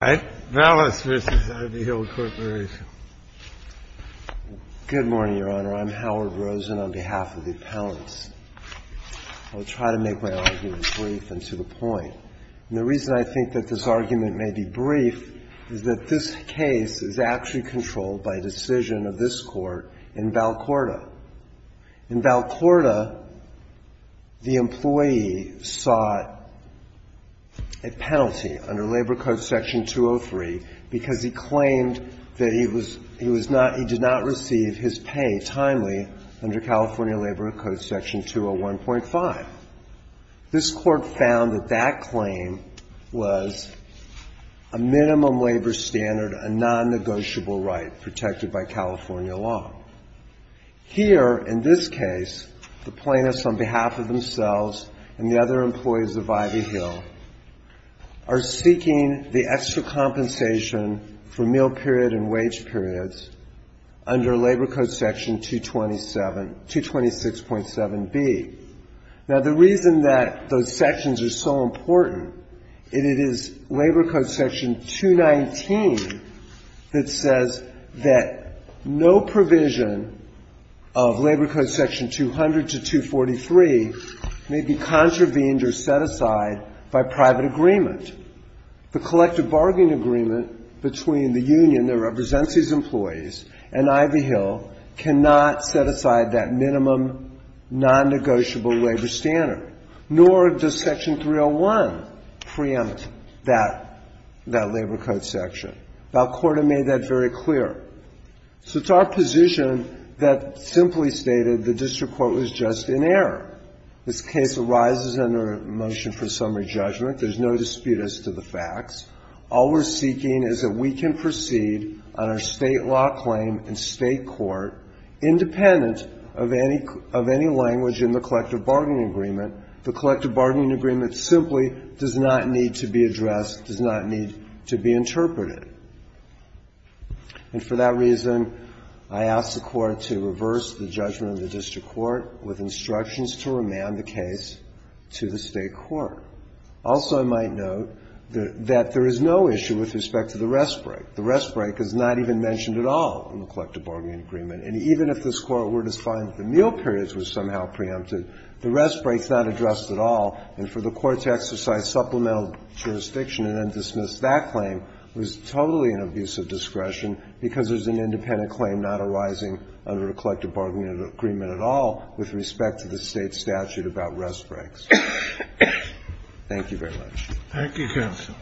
I'm Howard Rosen on behalf of the appellants. I will try to make my argument brief and to the point. The reason I think this argument may be brief is that this case is actually controlled by decision of this court in Valcourta. In Valcourta, the employee sought a penalty under Labor Code Section 203 because he claimed that he did not receive his pay timely under California Labor Code Section 201.5. This court found that that claim was a minimum labor standard, a non-negotiable right protected by California law. Here, in this case, the employee is seeking the extra compensation for meal period and wage periods under Labor Code Section 226.7b. Now, the reason that those sections are so important is it is Labor Code Section 219 that says that no provision of Labor Code Section 200 to 243 may be contravened or set aside by private agreement. The collective bargaining agreement between the union that represents these employees and Ivy Hill cannot set aside that minimum non-negotiable labor standard, nor does Section 301 preempt that Labor Code section. Valcourta made that very clear. So it's our position that simply stated the district court was just in error. This case arises under a motion for summary judgment. There's no dispute as to the facts. All we're seeking is that we can proceed on our State law claim in State court independent of any language in the collective bargaining agreement. The collective bargaining agreement simply does not need to be addressed, does not need to be interpreted. And for that reason, I ask the Court to reverse the judgment of the district court with instructions to remand the case to the State court. Also, I might note that there is no issue with respect to the rest break. The rest break is not even mentioned at all in the collective bargaining agreement. And even if this Court were to find that the meal periods were somehow preempted, the rest break is not addressed at all. And for the Court to exercise supplemental jurisdiction and then dismiss that claim was totally an abuse of discretion because there's an independent claim not arising under the collective bargaining agreement at all with respect to the State statute about rest breaks. Thank you very much. Thank you, counsel.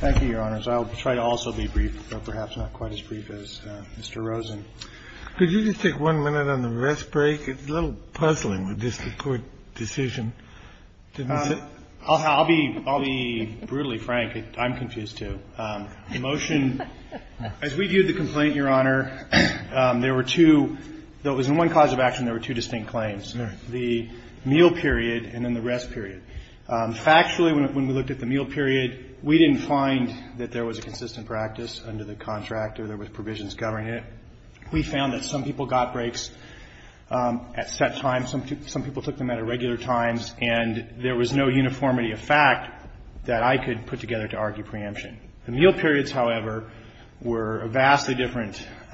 Thank you, Your Honors. I'll try to also be brief, but perhaps not quite as brief as Mr. Rosen. Could you just take one minute on the rest break? It's a little puzzling with district court decision. I'll be brutally frank. I'm confused, too. The motion, as we viewed the complaint, Your Honor, there were two – there was one cause of action, there were two distinct claims, the meal period and then the rest period. Factually, when we looked at the meal period, we didn't find that there was a consistent practice under the contract or there was provisions governing it. We found that some people got breaks at set times, some people took them at irregular times, and there was no uniformity of fact that I could put together to argue preemption. The meal periods, however, were a vastly different –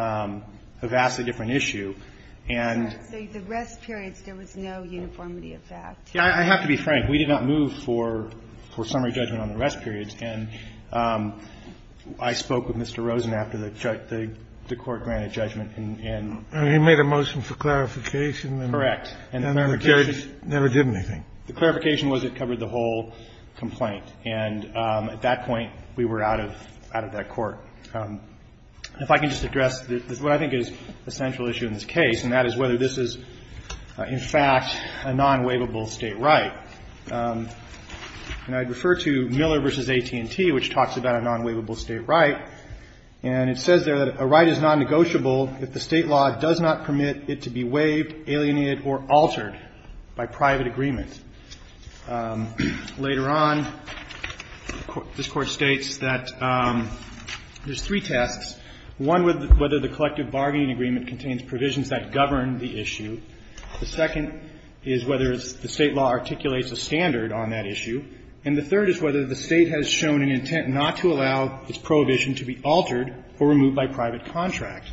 a vastly different issue, and the rest periods, there was no uniformity of fact. Yeah. I have to be frank. We did not move for summary judgment on the rest periods. And I spoke with Mr. Rosen after the court granted judgment and he made a motion for clarification. Correct. And the clarification – Never did anything. The clarification was it covered the whole complaint. And at that point, we were out of that court. If I can just address what I think is the central issue in this case, and that is whether this is, in fact, a non-waivable State right. And I'd refer to Miller v. AT&T, which talks about a non-waivable State right, and it says there that a right is non-negotiable if the State law does not permit it to be waived alienated or altered by private agreement. Later on, this Court states that there's three tasks. One was whether the collective bargaining agreement contains provisions that govern the issue. The second is whether the State law articulates a standard on that issue. And the third is whether the State has shown an intent not to allow its prohibition to be altered or removed by private contract.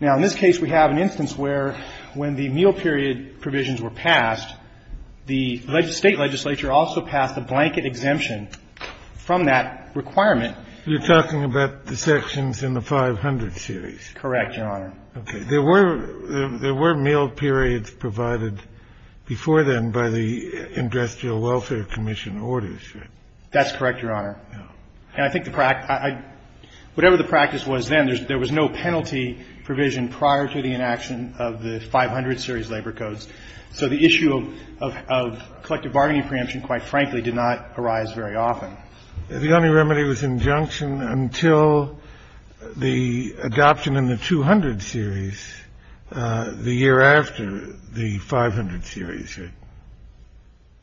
Now, in this case, we have an instance where, when the meal period provisions were passed, the State legislature also passed a blanket exemption from that requirement. You're talking about the sections in the 500 series? Correct, Your Honor. Okay. There were meal periods provided before then by the Industrial Welfare Commission orders, right? That's correct, Your Honor. Yeah. And I think the practice — whatever the practice was then, there was no penalty provision prior to the inaction of the 500 series labor codes. So the issue of collective bargaining preemption, quite frankly, did not arise very often. The only remedy was injunction until the adoption in the 200 series the year after the 500 series, right?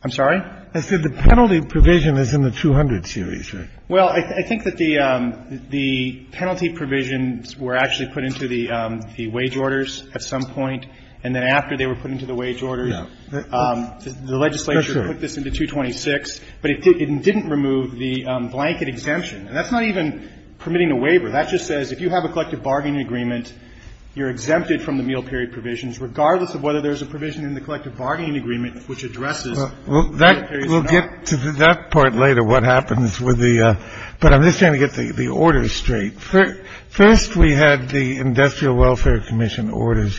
I'm sorry? I said the penalty provision is in the 200 series, right? Well, I think that the penalty provisions were actually put into the wage orders at some point, and then after they were put into the wage orders, the legislature put this into 226, but it didn't remove the blanket exemption. And that's not even permitting a waiver. That just says if you have a collective bargaining agreement, you're exempted from the meal period provisions, regardless of whether there's a provision in the collective bargaining agreement which addresses the meal period or not. We'll get to that part later, what happens with the — but I'm just trying to get the orders straight. First, we had the Industrial Welfare Commission orders,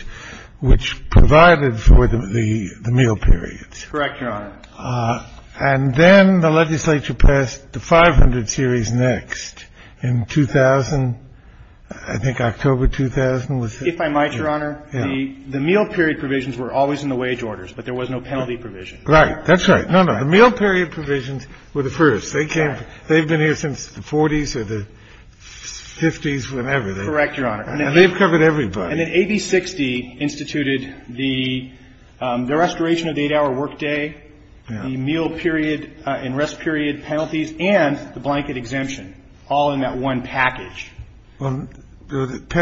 which provided for the meal periods. Correct, Your Honor. And then the legislature passed the 500 series next in 2000 — I think October 2000 was it? If I might, Your Honor, the meal period provisions were always in the wage orders, but there was no penalty provision. Right. That's right. No, no. The meal period provisions were the first. They came — they've been here since the 40s or the 50s, whenever. Correct, Your Honor. And they've covered everybody. And then AB60 instituted the restoration of the 8-hour workday, the meal period and rest period penalties, and the blanket exemption, all in that one package. I believe they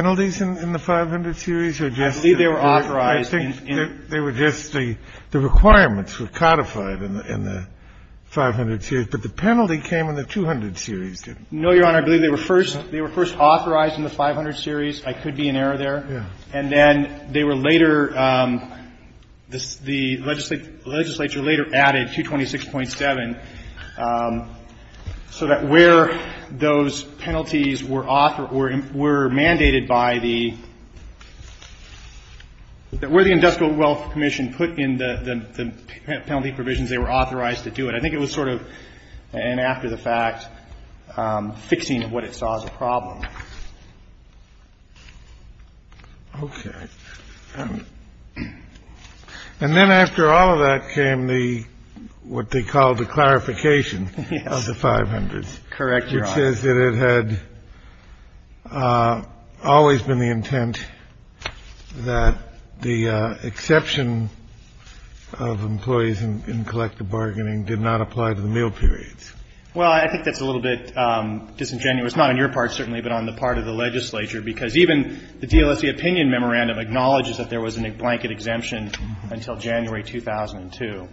were authorized in — No, I think they were just — the requirements were codified in the 500 series, but the penalty came in the 200 series, didn't it? No, Your Honor. I believe they were first authorized in the 500 series. I could be in error there. Yeah. And then they were later — the legislature later added 226.7, so that where those — where the Industrial Wealth Commission put in the penalty provisions, they were authorized to do it. I think it was sort of an after-the-fact fixing of what it saw as a problem. Okay. And then after all of that came the — what they called the clarification of the 500s. Yes. Correct, Your Honor. It says that it had always been the intent that the exception of employees in collective bargaining did not apply to the meal periods. Well, I think that's a little bit disingenuous, not on your part certainly, but on the part of the legislature, because even the DLSE opinion memorandum acknowledges that there was a blanket exemption until January 2002.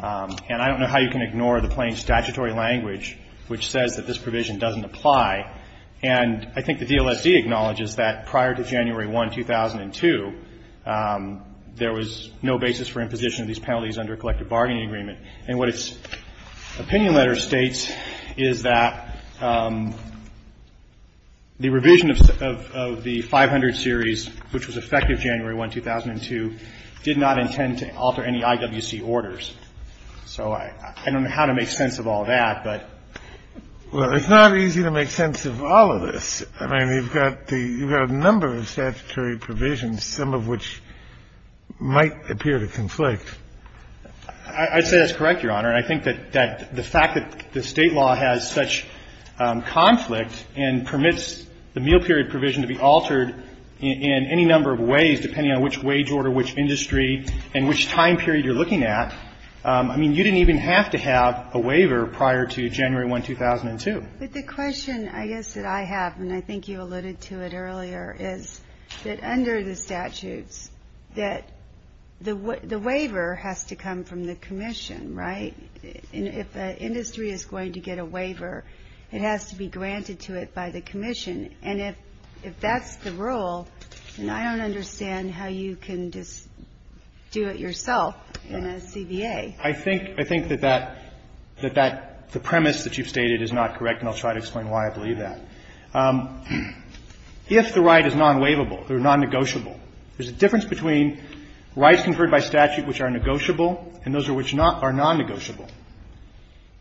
And I don't know how you can ignore the plain statutory language which says that this provision doesn't apply. And I think the DLSE acknowledges that prior to January 1, 2002, there was no basis for imposition of these penalties under collective bargaining agreement. And what its opinion letter states is that the revision of the 500 series, which was effective January 1, 2002, did not intend to alter any IWC orders. So I don't know how to make sense of all that, but — Well, it's not easy to make sense of all of this. I mean, you've got the — you've got a number of statutory provisions, some of which might appear to conflict. I'd say that's correct, Your Honor. And I think that the fact that the State law has such conflict and permits the meal period provision to be altered in any number of ways, depending on which wage order, which industry, and which time period you're looking at, I mean, you didn't even have to have a waiver prior to January 1, 2002. But the question, I guess, that I have, and I think you alluded to it earlier, is that under the statutes that the waiver has to come from the commission, right? If an industry is going to get a waiver, it has to be granted to it by the commission. And if that's the rule, then I don't understand how you can just do it yourself in a CBA. I think that that — that the premise that you've stated is not correct, and I'll try to explain why I believe that. If the right is non-waivable or non-negotiable, there's a difference between rights conferred by statute which are negotiable and those which are non-negotiable.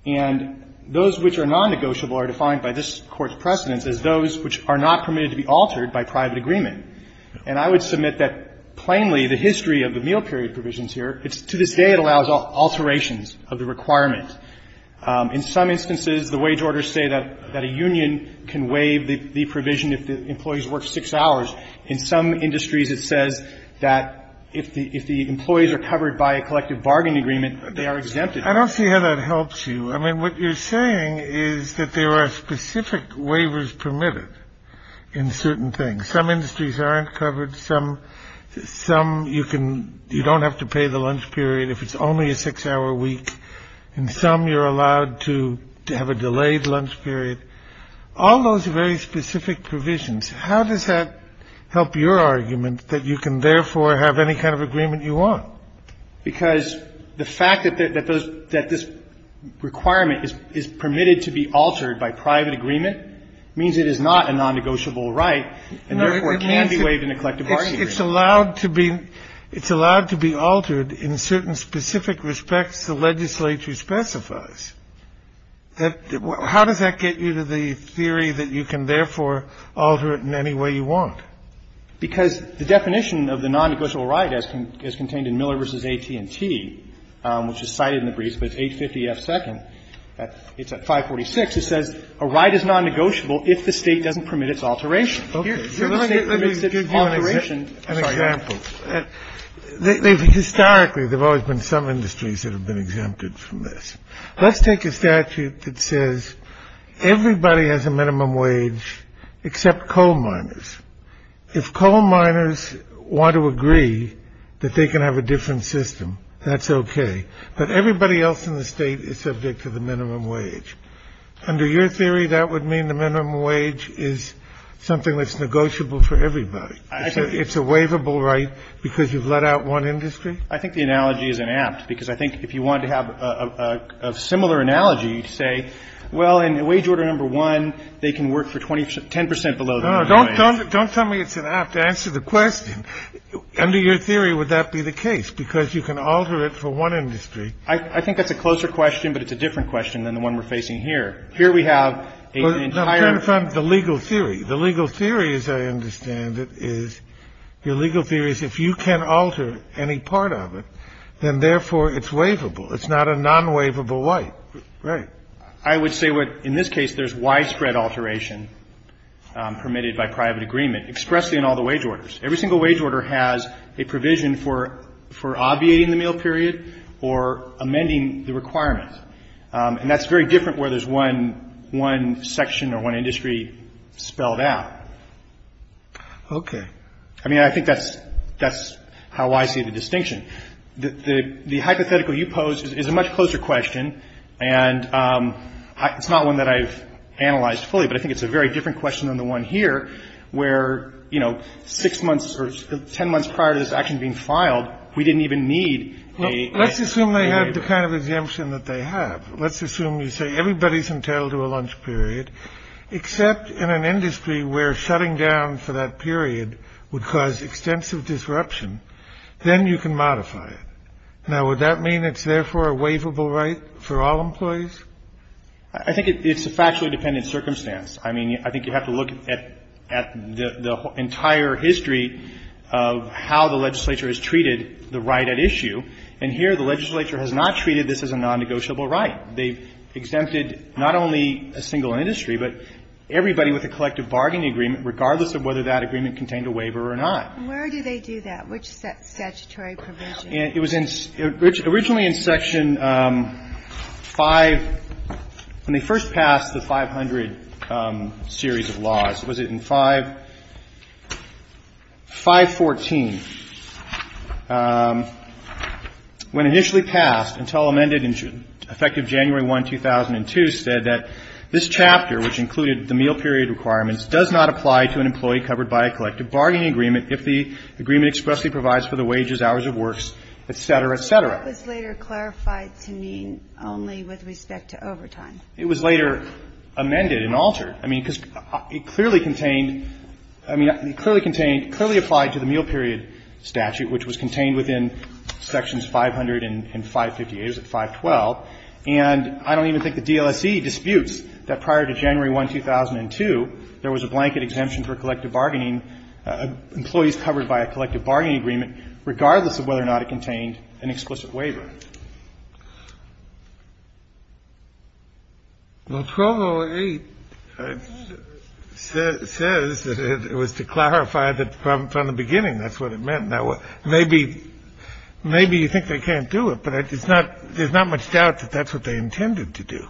And those which are non-negotiable are defined by this Court's precedence as those which are not permitted to be altered by private agreement. And I would submit that, plainly, the history of the meal period provisions here, to this day, it allows alterations of the requirement. In some instances, the wage orders say that a union can waive the provision if the employees work six hours. In some industries, it says that if the employees are covered by a collective bargain agreement, they are exempted. I don't see how that helps you. I mean, what you're saying is that there are specific waivers permitted in certain things. Some industries aren't covered. Some — some, you can — you don't have to pay the lunch period if it's only a six-hour week. And some, you're allowed to have a delayed lunch period. All those are very specific provisions. How does that help your argument that you can, therefore, have any kind of agreement you want? Because the fact that those — that this requirement is permitted to be altered by private agreement means it is not a nondegotiable right and, therefore, can be waived in a collective bargain agreement. It's allowed to be — it's allowed to be altered in certain specific respects the legislature specifies. How does that get you to the theory that you can, therefore, alter it in any way you want? Because the definition of the nondegotiable right as contained in Miller v. AT&T, which is cited in the brief, but it's 850F2nd. It's at 546. It says a right is nondegotiable if the State doesn't permit its alteration. So the State permits its alteration. An example. Historically, there have always been some industries that have been exempted from this. Let's take a statute that says everybody has a minimum wage except coal miners. If coal miners want to agree that they can have a different system, that's okay. But everybody else in the State is subject to the minimum wage. Under your theory, that would mean the minimum wage is something that's negotiable for everybody. It's a waivable right because you've let out one industry? I think the analogy is inapt. Because I think if you wanted to have a similar analogy, you'd say, well, in wage order number one, they can work for 10 percent below the minimum wage. Don't tell me it's inapt. Answer the question. Under your theory, would that be the case? Because you can alter it for one industry. I think that's a closer question, but it's a different question than the one we're facing here. Here we have an entire. I'm trying to find the legal theory. The legal theory, as I understand it, is your legal theory is if you can alter any part of it, then therefore it's waivable. It's not a non-waivable right. Right. I would say in this case there's widespread alteration permitted by private agreement expressly in all the wage orders. Every single wage order has a provision for obviating the meal period or amending the requirement. And that's very different where there's one one section or one industry spelled out. OK. I mean, I think that's that's how I see the distinction. The hypothetical you posed is a much closer question. And it's not one that I've analyzed fully, but I think it's a very different question than the one here where, you know, six months or 10 months prior to this action being filed, we didn't even need a. Let's assume they have the kind of exemption that they have. Let's assume you say everybody's entitled to a lunch period, except in an industry where shutting down for that period would cause extensive disruption. Then you can modify it. Now, would that mean it's therefore a waivable right for all employees? I think it's a factually dependent circumstance. I mean, I think you have to look at the entire history of how the legislature has treated the right at issue. And here the legislature has not treated this as a non-negotiable right. They've exempted not only a single industry, but everybody with a collective bargaining agreement, regardless of whether that agreement contained a waiver or not. Where do they do that? Which statutory provision? It was originally in Section 5 when they first passed the 500 series of laws. Was it in 514? When initially passed until amended in effect of January 1, 2002, said that this chapter, which included the meal period requirements, does not apply to an employee covered by a collective bargaining agreement if the agreement expressly provides for the wages, hours of works, et cetera, et cetera. It was later clarified to mean only with respect to overtime. It was later amended and altered. I mean, because it clearly contained, I mean, it clearly contained, clearly applied to the meal period statute, which was contained within Sections 500 and 558. It was at 512. And I don't even think the DLSE disputes that prior to January 1, 2002, there was a blanket exemption for collective bargaining, employees covered by a collective bargaining agreement, regardless of whether or not it contained an explicit waiver. Well, 1208 says that it was to clarify that from the beginning that's what it meant. Now, maybe you think they can't do it, but there's not much doubt that that's what they intended to do.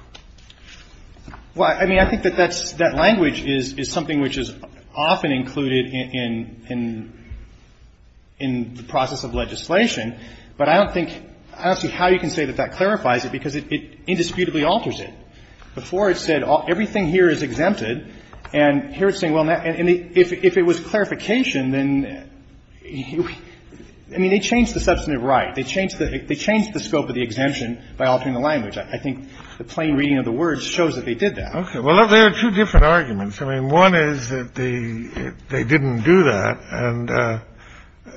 Well, I mean, I think that that language is something which is often included in the process of legislation. But I don't think – I don't see how you can say that that clarifies it, because it indisputably alters it. Before, it said everything here is exempted. And here it's saying, well, if it was clarification, then – I mean, they changed the substantive right. They changed the scope of the exemption by altering the language. I think the plain reading of the words shows that they did that. Okay. Well, there are two different arguments. I mean, one is that they didn't do that, and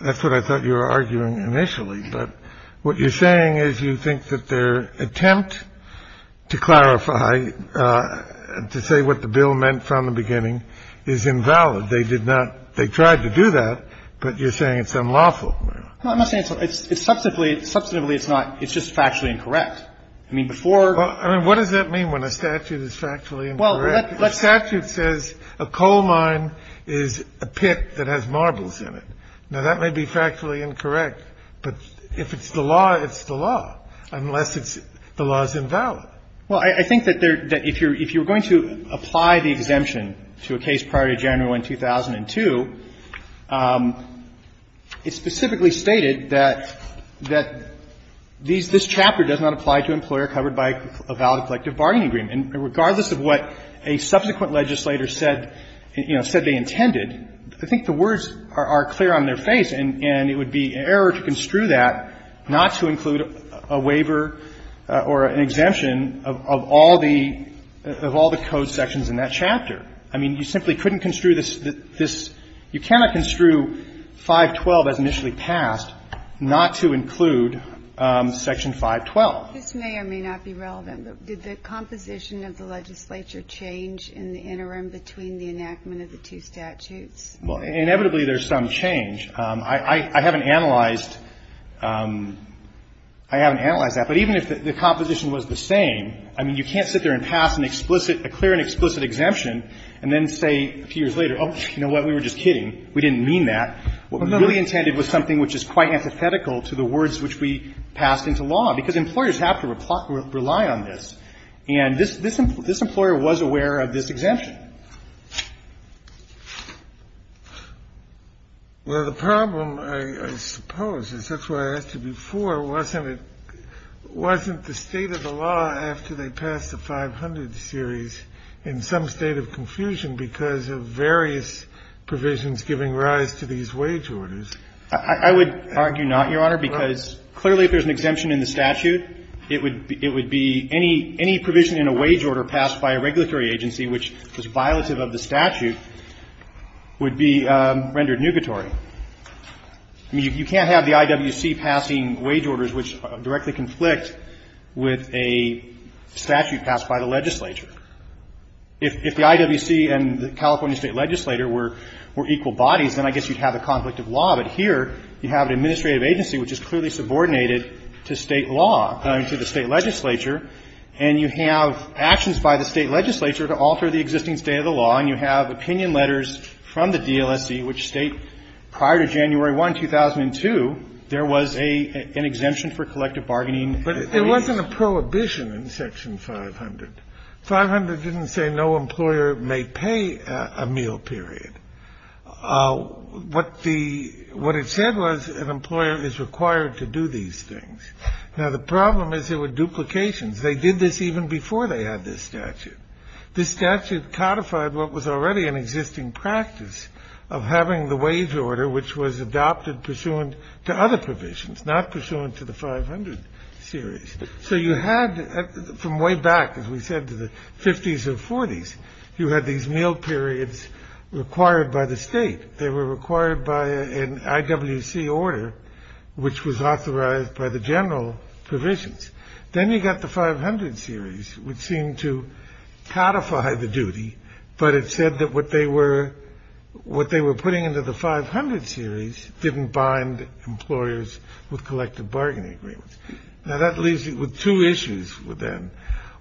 that's what I thought you were arguing initially. But what you're saying is you think that their attempt to clarify, to say what the bill meant from the beginning, is invalid. They did not – they tried to do that, but you're saying it's unlawful. No, I'm not saying it's unlawful. Substantively, it's not. It's just factually incorrect. I mean, before – Well, I mean, what does that mean when a statute is factually incorrect? The statute says a coal mine is a pit that has marbles in it. Now, that may be factually incorrect, but if it's the law, it's the law, unless it's – the law is invalid. Well, I think that if you're going to apply the exemption to a case prior to January 1, 2002, it specifically stated that this chapter does not apply to an employer covered by a valid collective bargaining agreement. And regardless of what a subsequent legislator said, you know, said they intended, I think the words are clear on their face, and it would be an error to construe that not to include a waiver or an exemption of all the – of all the code sections in that chapter. I mean, you simply couldn't construe this – you cannot construe 512 as initially passed not to include Section 512. This may or may not be relevant, but did the composition of the legislature change in the interim between the enactment of the two statutes? Well, inevitably, there's some change. I haven't analyzed – I haven't analyzed that. But even if the composition was the same, I mean, you can't sit there and pass an explicit – a clear and explicit exemption and then say a few years later, oh, you know what, we were just kidding. We didn't mean that. What we really intended was something which is quite antithetical to the words which we passed into law, because employers have to rely on this. And this employer was aware of this exemption. Well, the problem, I suppose, and that's why I asked you before, wasn't it – wasn't the state of the law after they passed the 500 series in some state of confusion because of various provisions giving rise to these wage orders? I would argue not, Your Honor, because clearly if there's an exemption in the statute, it would be – any provision in a wage order passed by a regulatory agency which was violative of the statute would be rendered nugatory. I mean, you can't have the IWC passing wage orders which directly conflict with a statute passed by the legislature. If the IWC and the California State Legislature were equal bodies, then I guess you'd have a conflict of law, but here you have an administrative agency which is clearly subordinated to state law – I mean, to the state legislature, and you have actions by the state legislature to alter the existing state of the law, and you have opinion letters from the DLSC which state prior to January 1, 2002, there was an exemption for collective bargaining. But there wasn't a prohibition in Section 500. 500 didn't say no employer may pay a meal period. What the – what it said was an employer is required to do these things. Now, the problem is there were duplications. They did this even before they had this statute. This statute codified what was already an existing practice of having the wage order which was adopted pursuant to other provisions, not pursuant to the 500 series. So you had from way back, as we said, to the 50s or 40s, you had these meal periods required by the state. They were required by an IWC order which was authorized by the general provisions. Then you got the 500 series which seemed to codify the duty, but it said that what they were – what they were putting into the 500 series didn't bind employers with collective bargaining agreements. Now, that leaves you with two issues then.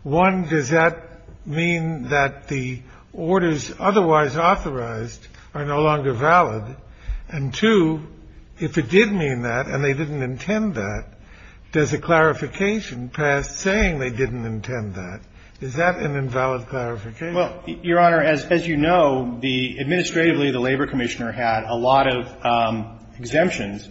One, does that mean that the orders otherwise authorized are no longer valid? And two, if it did mean that and they didn't intend that, does the clarification pass saying they didn't intend that? Is that an invalid clarification? Well, Your Honor, as you know, the – administratively, the Labor Commissioner had a lot of exemptions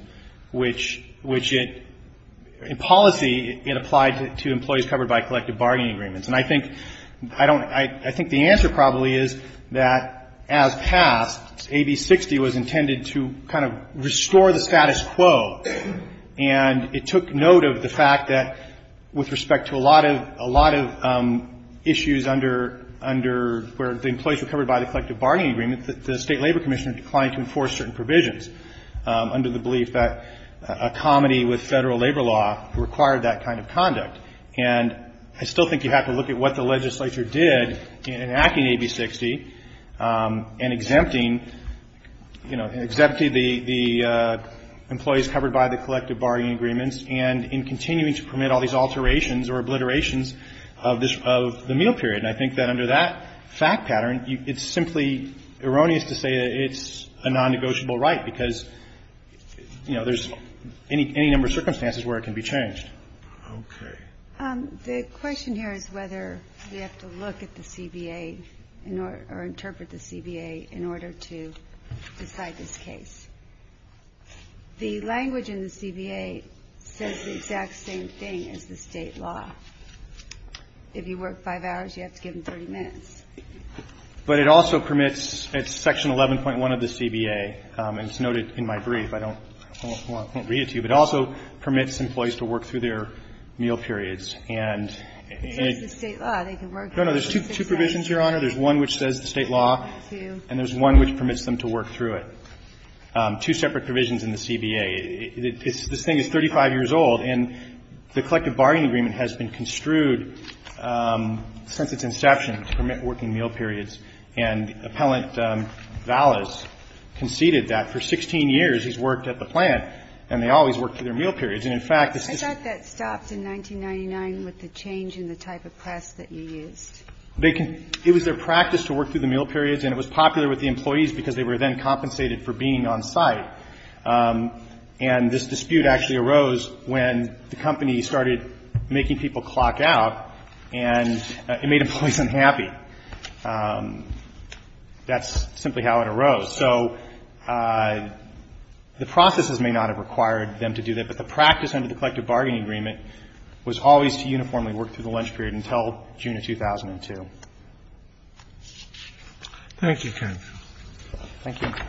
which it – in policy, it applied to employees covered by collective bargaining agreements. And I think – I don't – I think the answer probably is that as passed, AB60 was intended to kind of restore the status quo. And it took note of the fact that with respect to a lot of – a lot of issues under – under where the employees were covered by the collective bargaining agreement, the State Labor Commissioner declined to enforce certain provisions under the belief that a comedy with Federal labor law required that kind of conduct. And I still think you have to look at what the legislature did in enacting AB60 and exempting – you know, exempting the employees covered by the collective bargaining agreements and in continuing to permit all these alterations or obliterations of this – of the meal period. And I think that under that fact pattern, it's simply erroneous to say that it's a non-negotiable right because, you know, there's any number of circumstances where it can be changed. Okay. The question here is whether we have to look at the CBA or interpret the CBA in order to decide this case. The language in the CBA says the exact same thing as the State law. If you work five hours, you have to give them 30 minutes. But it also permits – it's Section 11.1 of the CBA. And it's noted in my brief. I don't – well, I can't read it to you. But it also permits employees to work through their meal periods. And – It says the State law. They can work – No, no. There's two provisions, Your Honor. There's one which says the State law and there's one which permits them to work through it. Two separate provisions in the CBA. It's – this thing is 35 years old. And the collective bargaining agreement has been construed since its inception to permit working meal periods. And Appellant Vallis conceded that for 16 years he's worked at the plant and they have always worked through their meal periods. And, in fact, this is – I thought that stopped in 1999 with the change in the type of press that you used. They can – it was their practice to work through the meal periods and it was popular with the employees because they were then compensated for being on site. And this dispute actually arose when the company started making people clock out and it made employees unhappy. That's simply how it arose. So the processes may not have required them to do that, but the practice under the collective bargaining agreement was always to uniformly work through the lunch period until June of 2002. Thank you, counsel. Thank you. Thank you.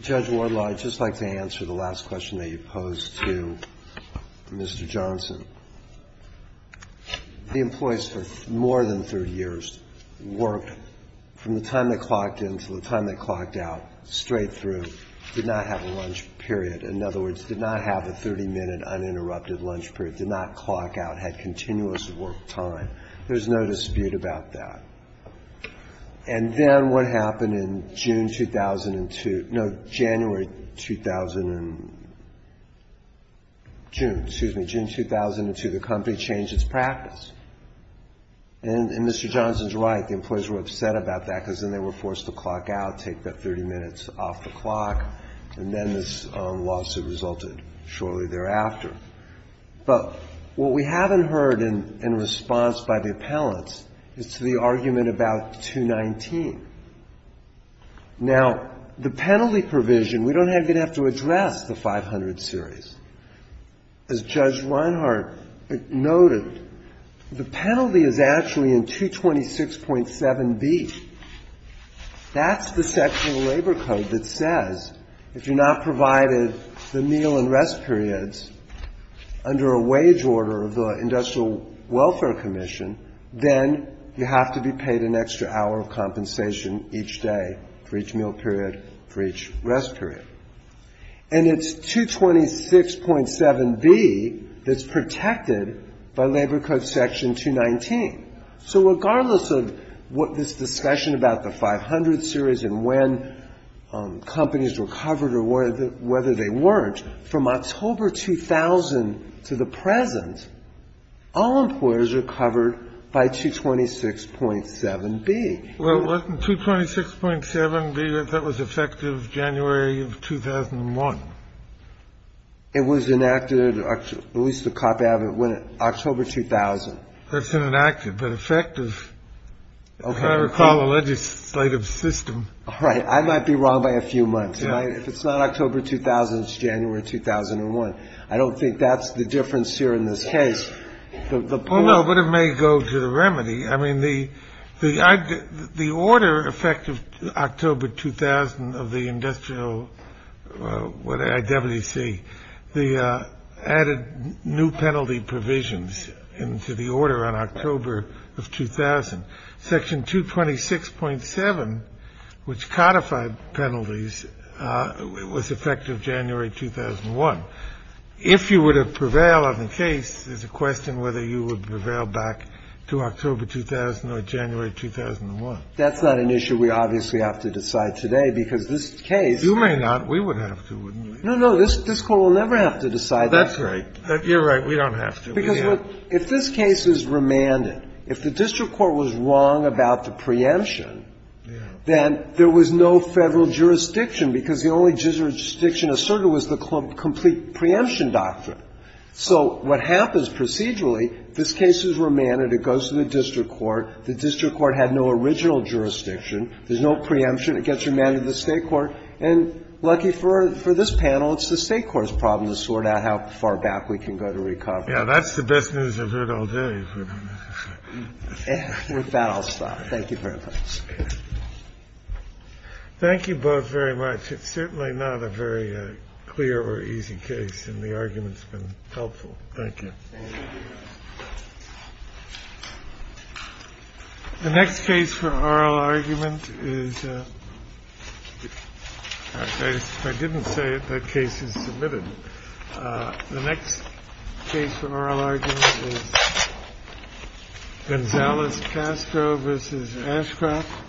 Judge Wardlaw, I'd just like to answer the last question that you posed to Mr. Johnson. The employees for more than 30 years worked from the time they clocked in to the time they clocked out, straight through, did not have a lunch period. In other words, did not have a 30-minute uninterrupted lunch period, did not clock out, had continuous work time. There's no dispute about that. And then what happened in June 2002 – no, January 2000 and – June, excuse me. June 2002, the company changed its practice. And Mr. Johnson's right. The employees were upset about that because then they were forced to clock out, take that 30 minutes off the clock, and then this lawsuit resulted shortly thereafter. But what we haven't heard in response by the appellants is the argument about 219. Now, the penalty provision – we don't even have to address the 500 series. As Judge Reinhart noted, the penalty is actually in 226.7b. That's the section of the Labor Code that says if you're not provided the meal and rest periods under a wage order of the Industrial Welfare Commission, then you have to be paid an extra hour of compensation each day for each meal period, for each rest period. And it's 226.7b that's protected by Labor Code Section 219. So regardless of what this discussion about the 500 series and when companies were covered or whether they weren't, from October 2000 to the present, all employers are covered by 226.7b. Well, wasn't 226.7b, I thought, was effective January of 2001? It was enacted – at least a copy of it went in October 2000. That's been enacted, but effective, if I recall, the legislative system. All right, I might be wrong by a few months. If it's not October 2000, it's January 2001. I don't think that's the difference here in this case. Well, no, but it may go to the remedy. I mean, the order effective October 2000 of the Industrial, what IWC, the added new penalty provisions into the order on October of 2000. Section 226.7, which codified penalties, was effective January 2001. If you were to prevail on the case, there's a question whether you would prevail back to October 2000 or January 2001. That's not an issue we obviously have to decide today because this case – You may not. We would have to, wouldn't we? No, no, this Court will never have to decide that. That's right. You're right. We don't have to. Because if this case is remanded, if the district court was wrong about the preemption, then there was no Federal jurisdiction because the only jurisdiction asserted was the complete preemption doctrine. So what happens procedurally, this case is remanded, it goes to the district court, the district court had no original jurisdiction, there's no preemption, it gets remanded to the state court, and lucky for this panel, it's the state court's problem to sort out how far back we can go to recover. Yeah, that's the best news I've heard all day. With that, I'll stop. Thank you very much. Thank you both very much. It's certainly not a very clear or easy case, and the argument's been helpful. Thank you. Thank you. The next case for oral argument is, if I didn't say it, that case is submitted. The next case for oral argument is Gonzales-Castro v. Ashcroft. Thank you.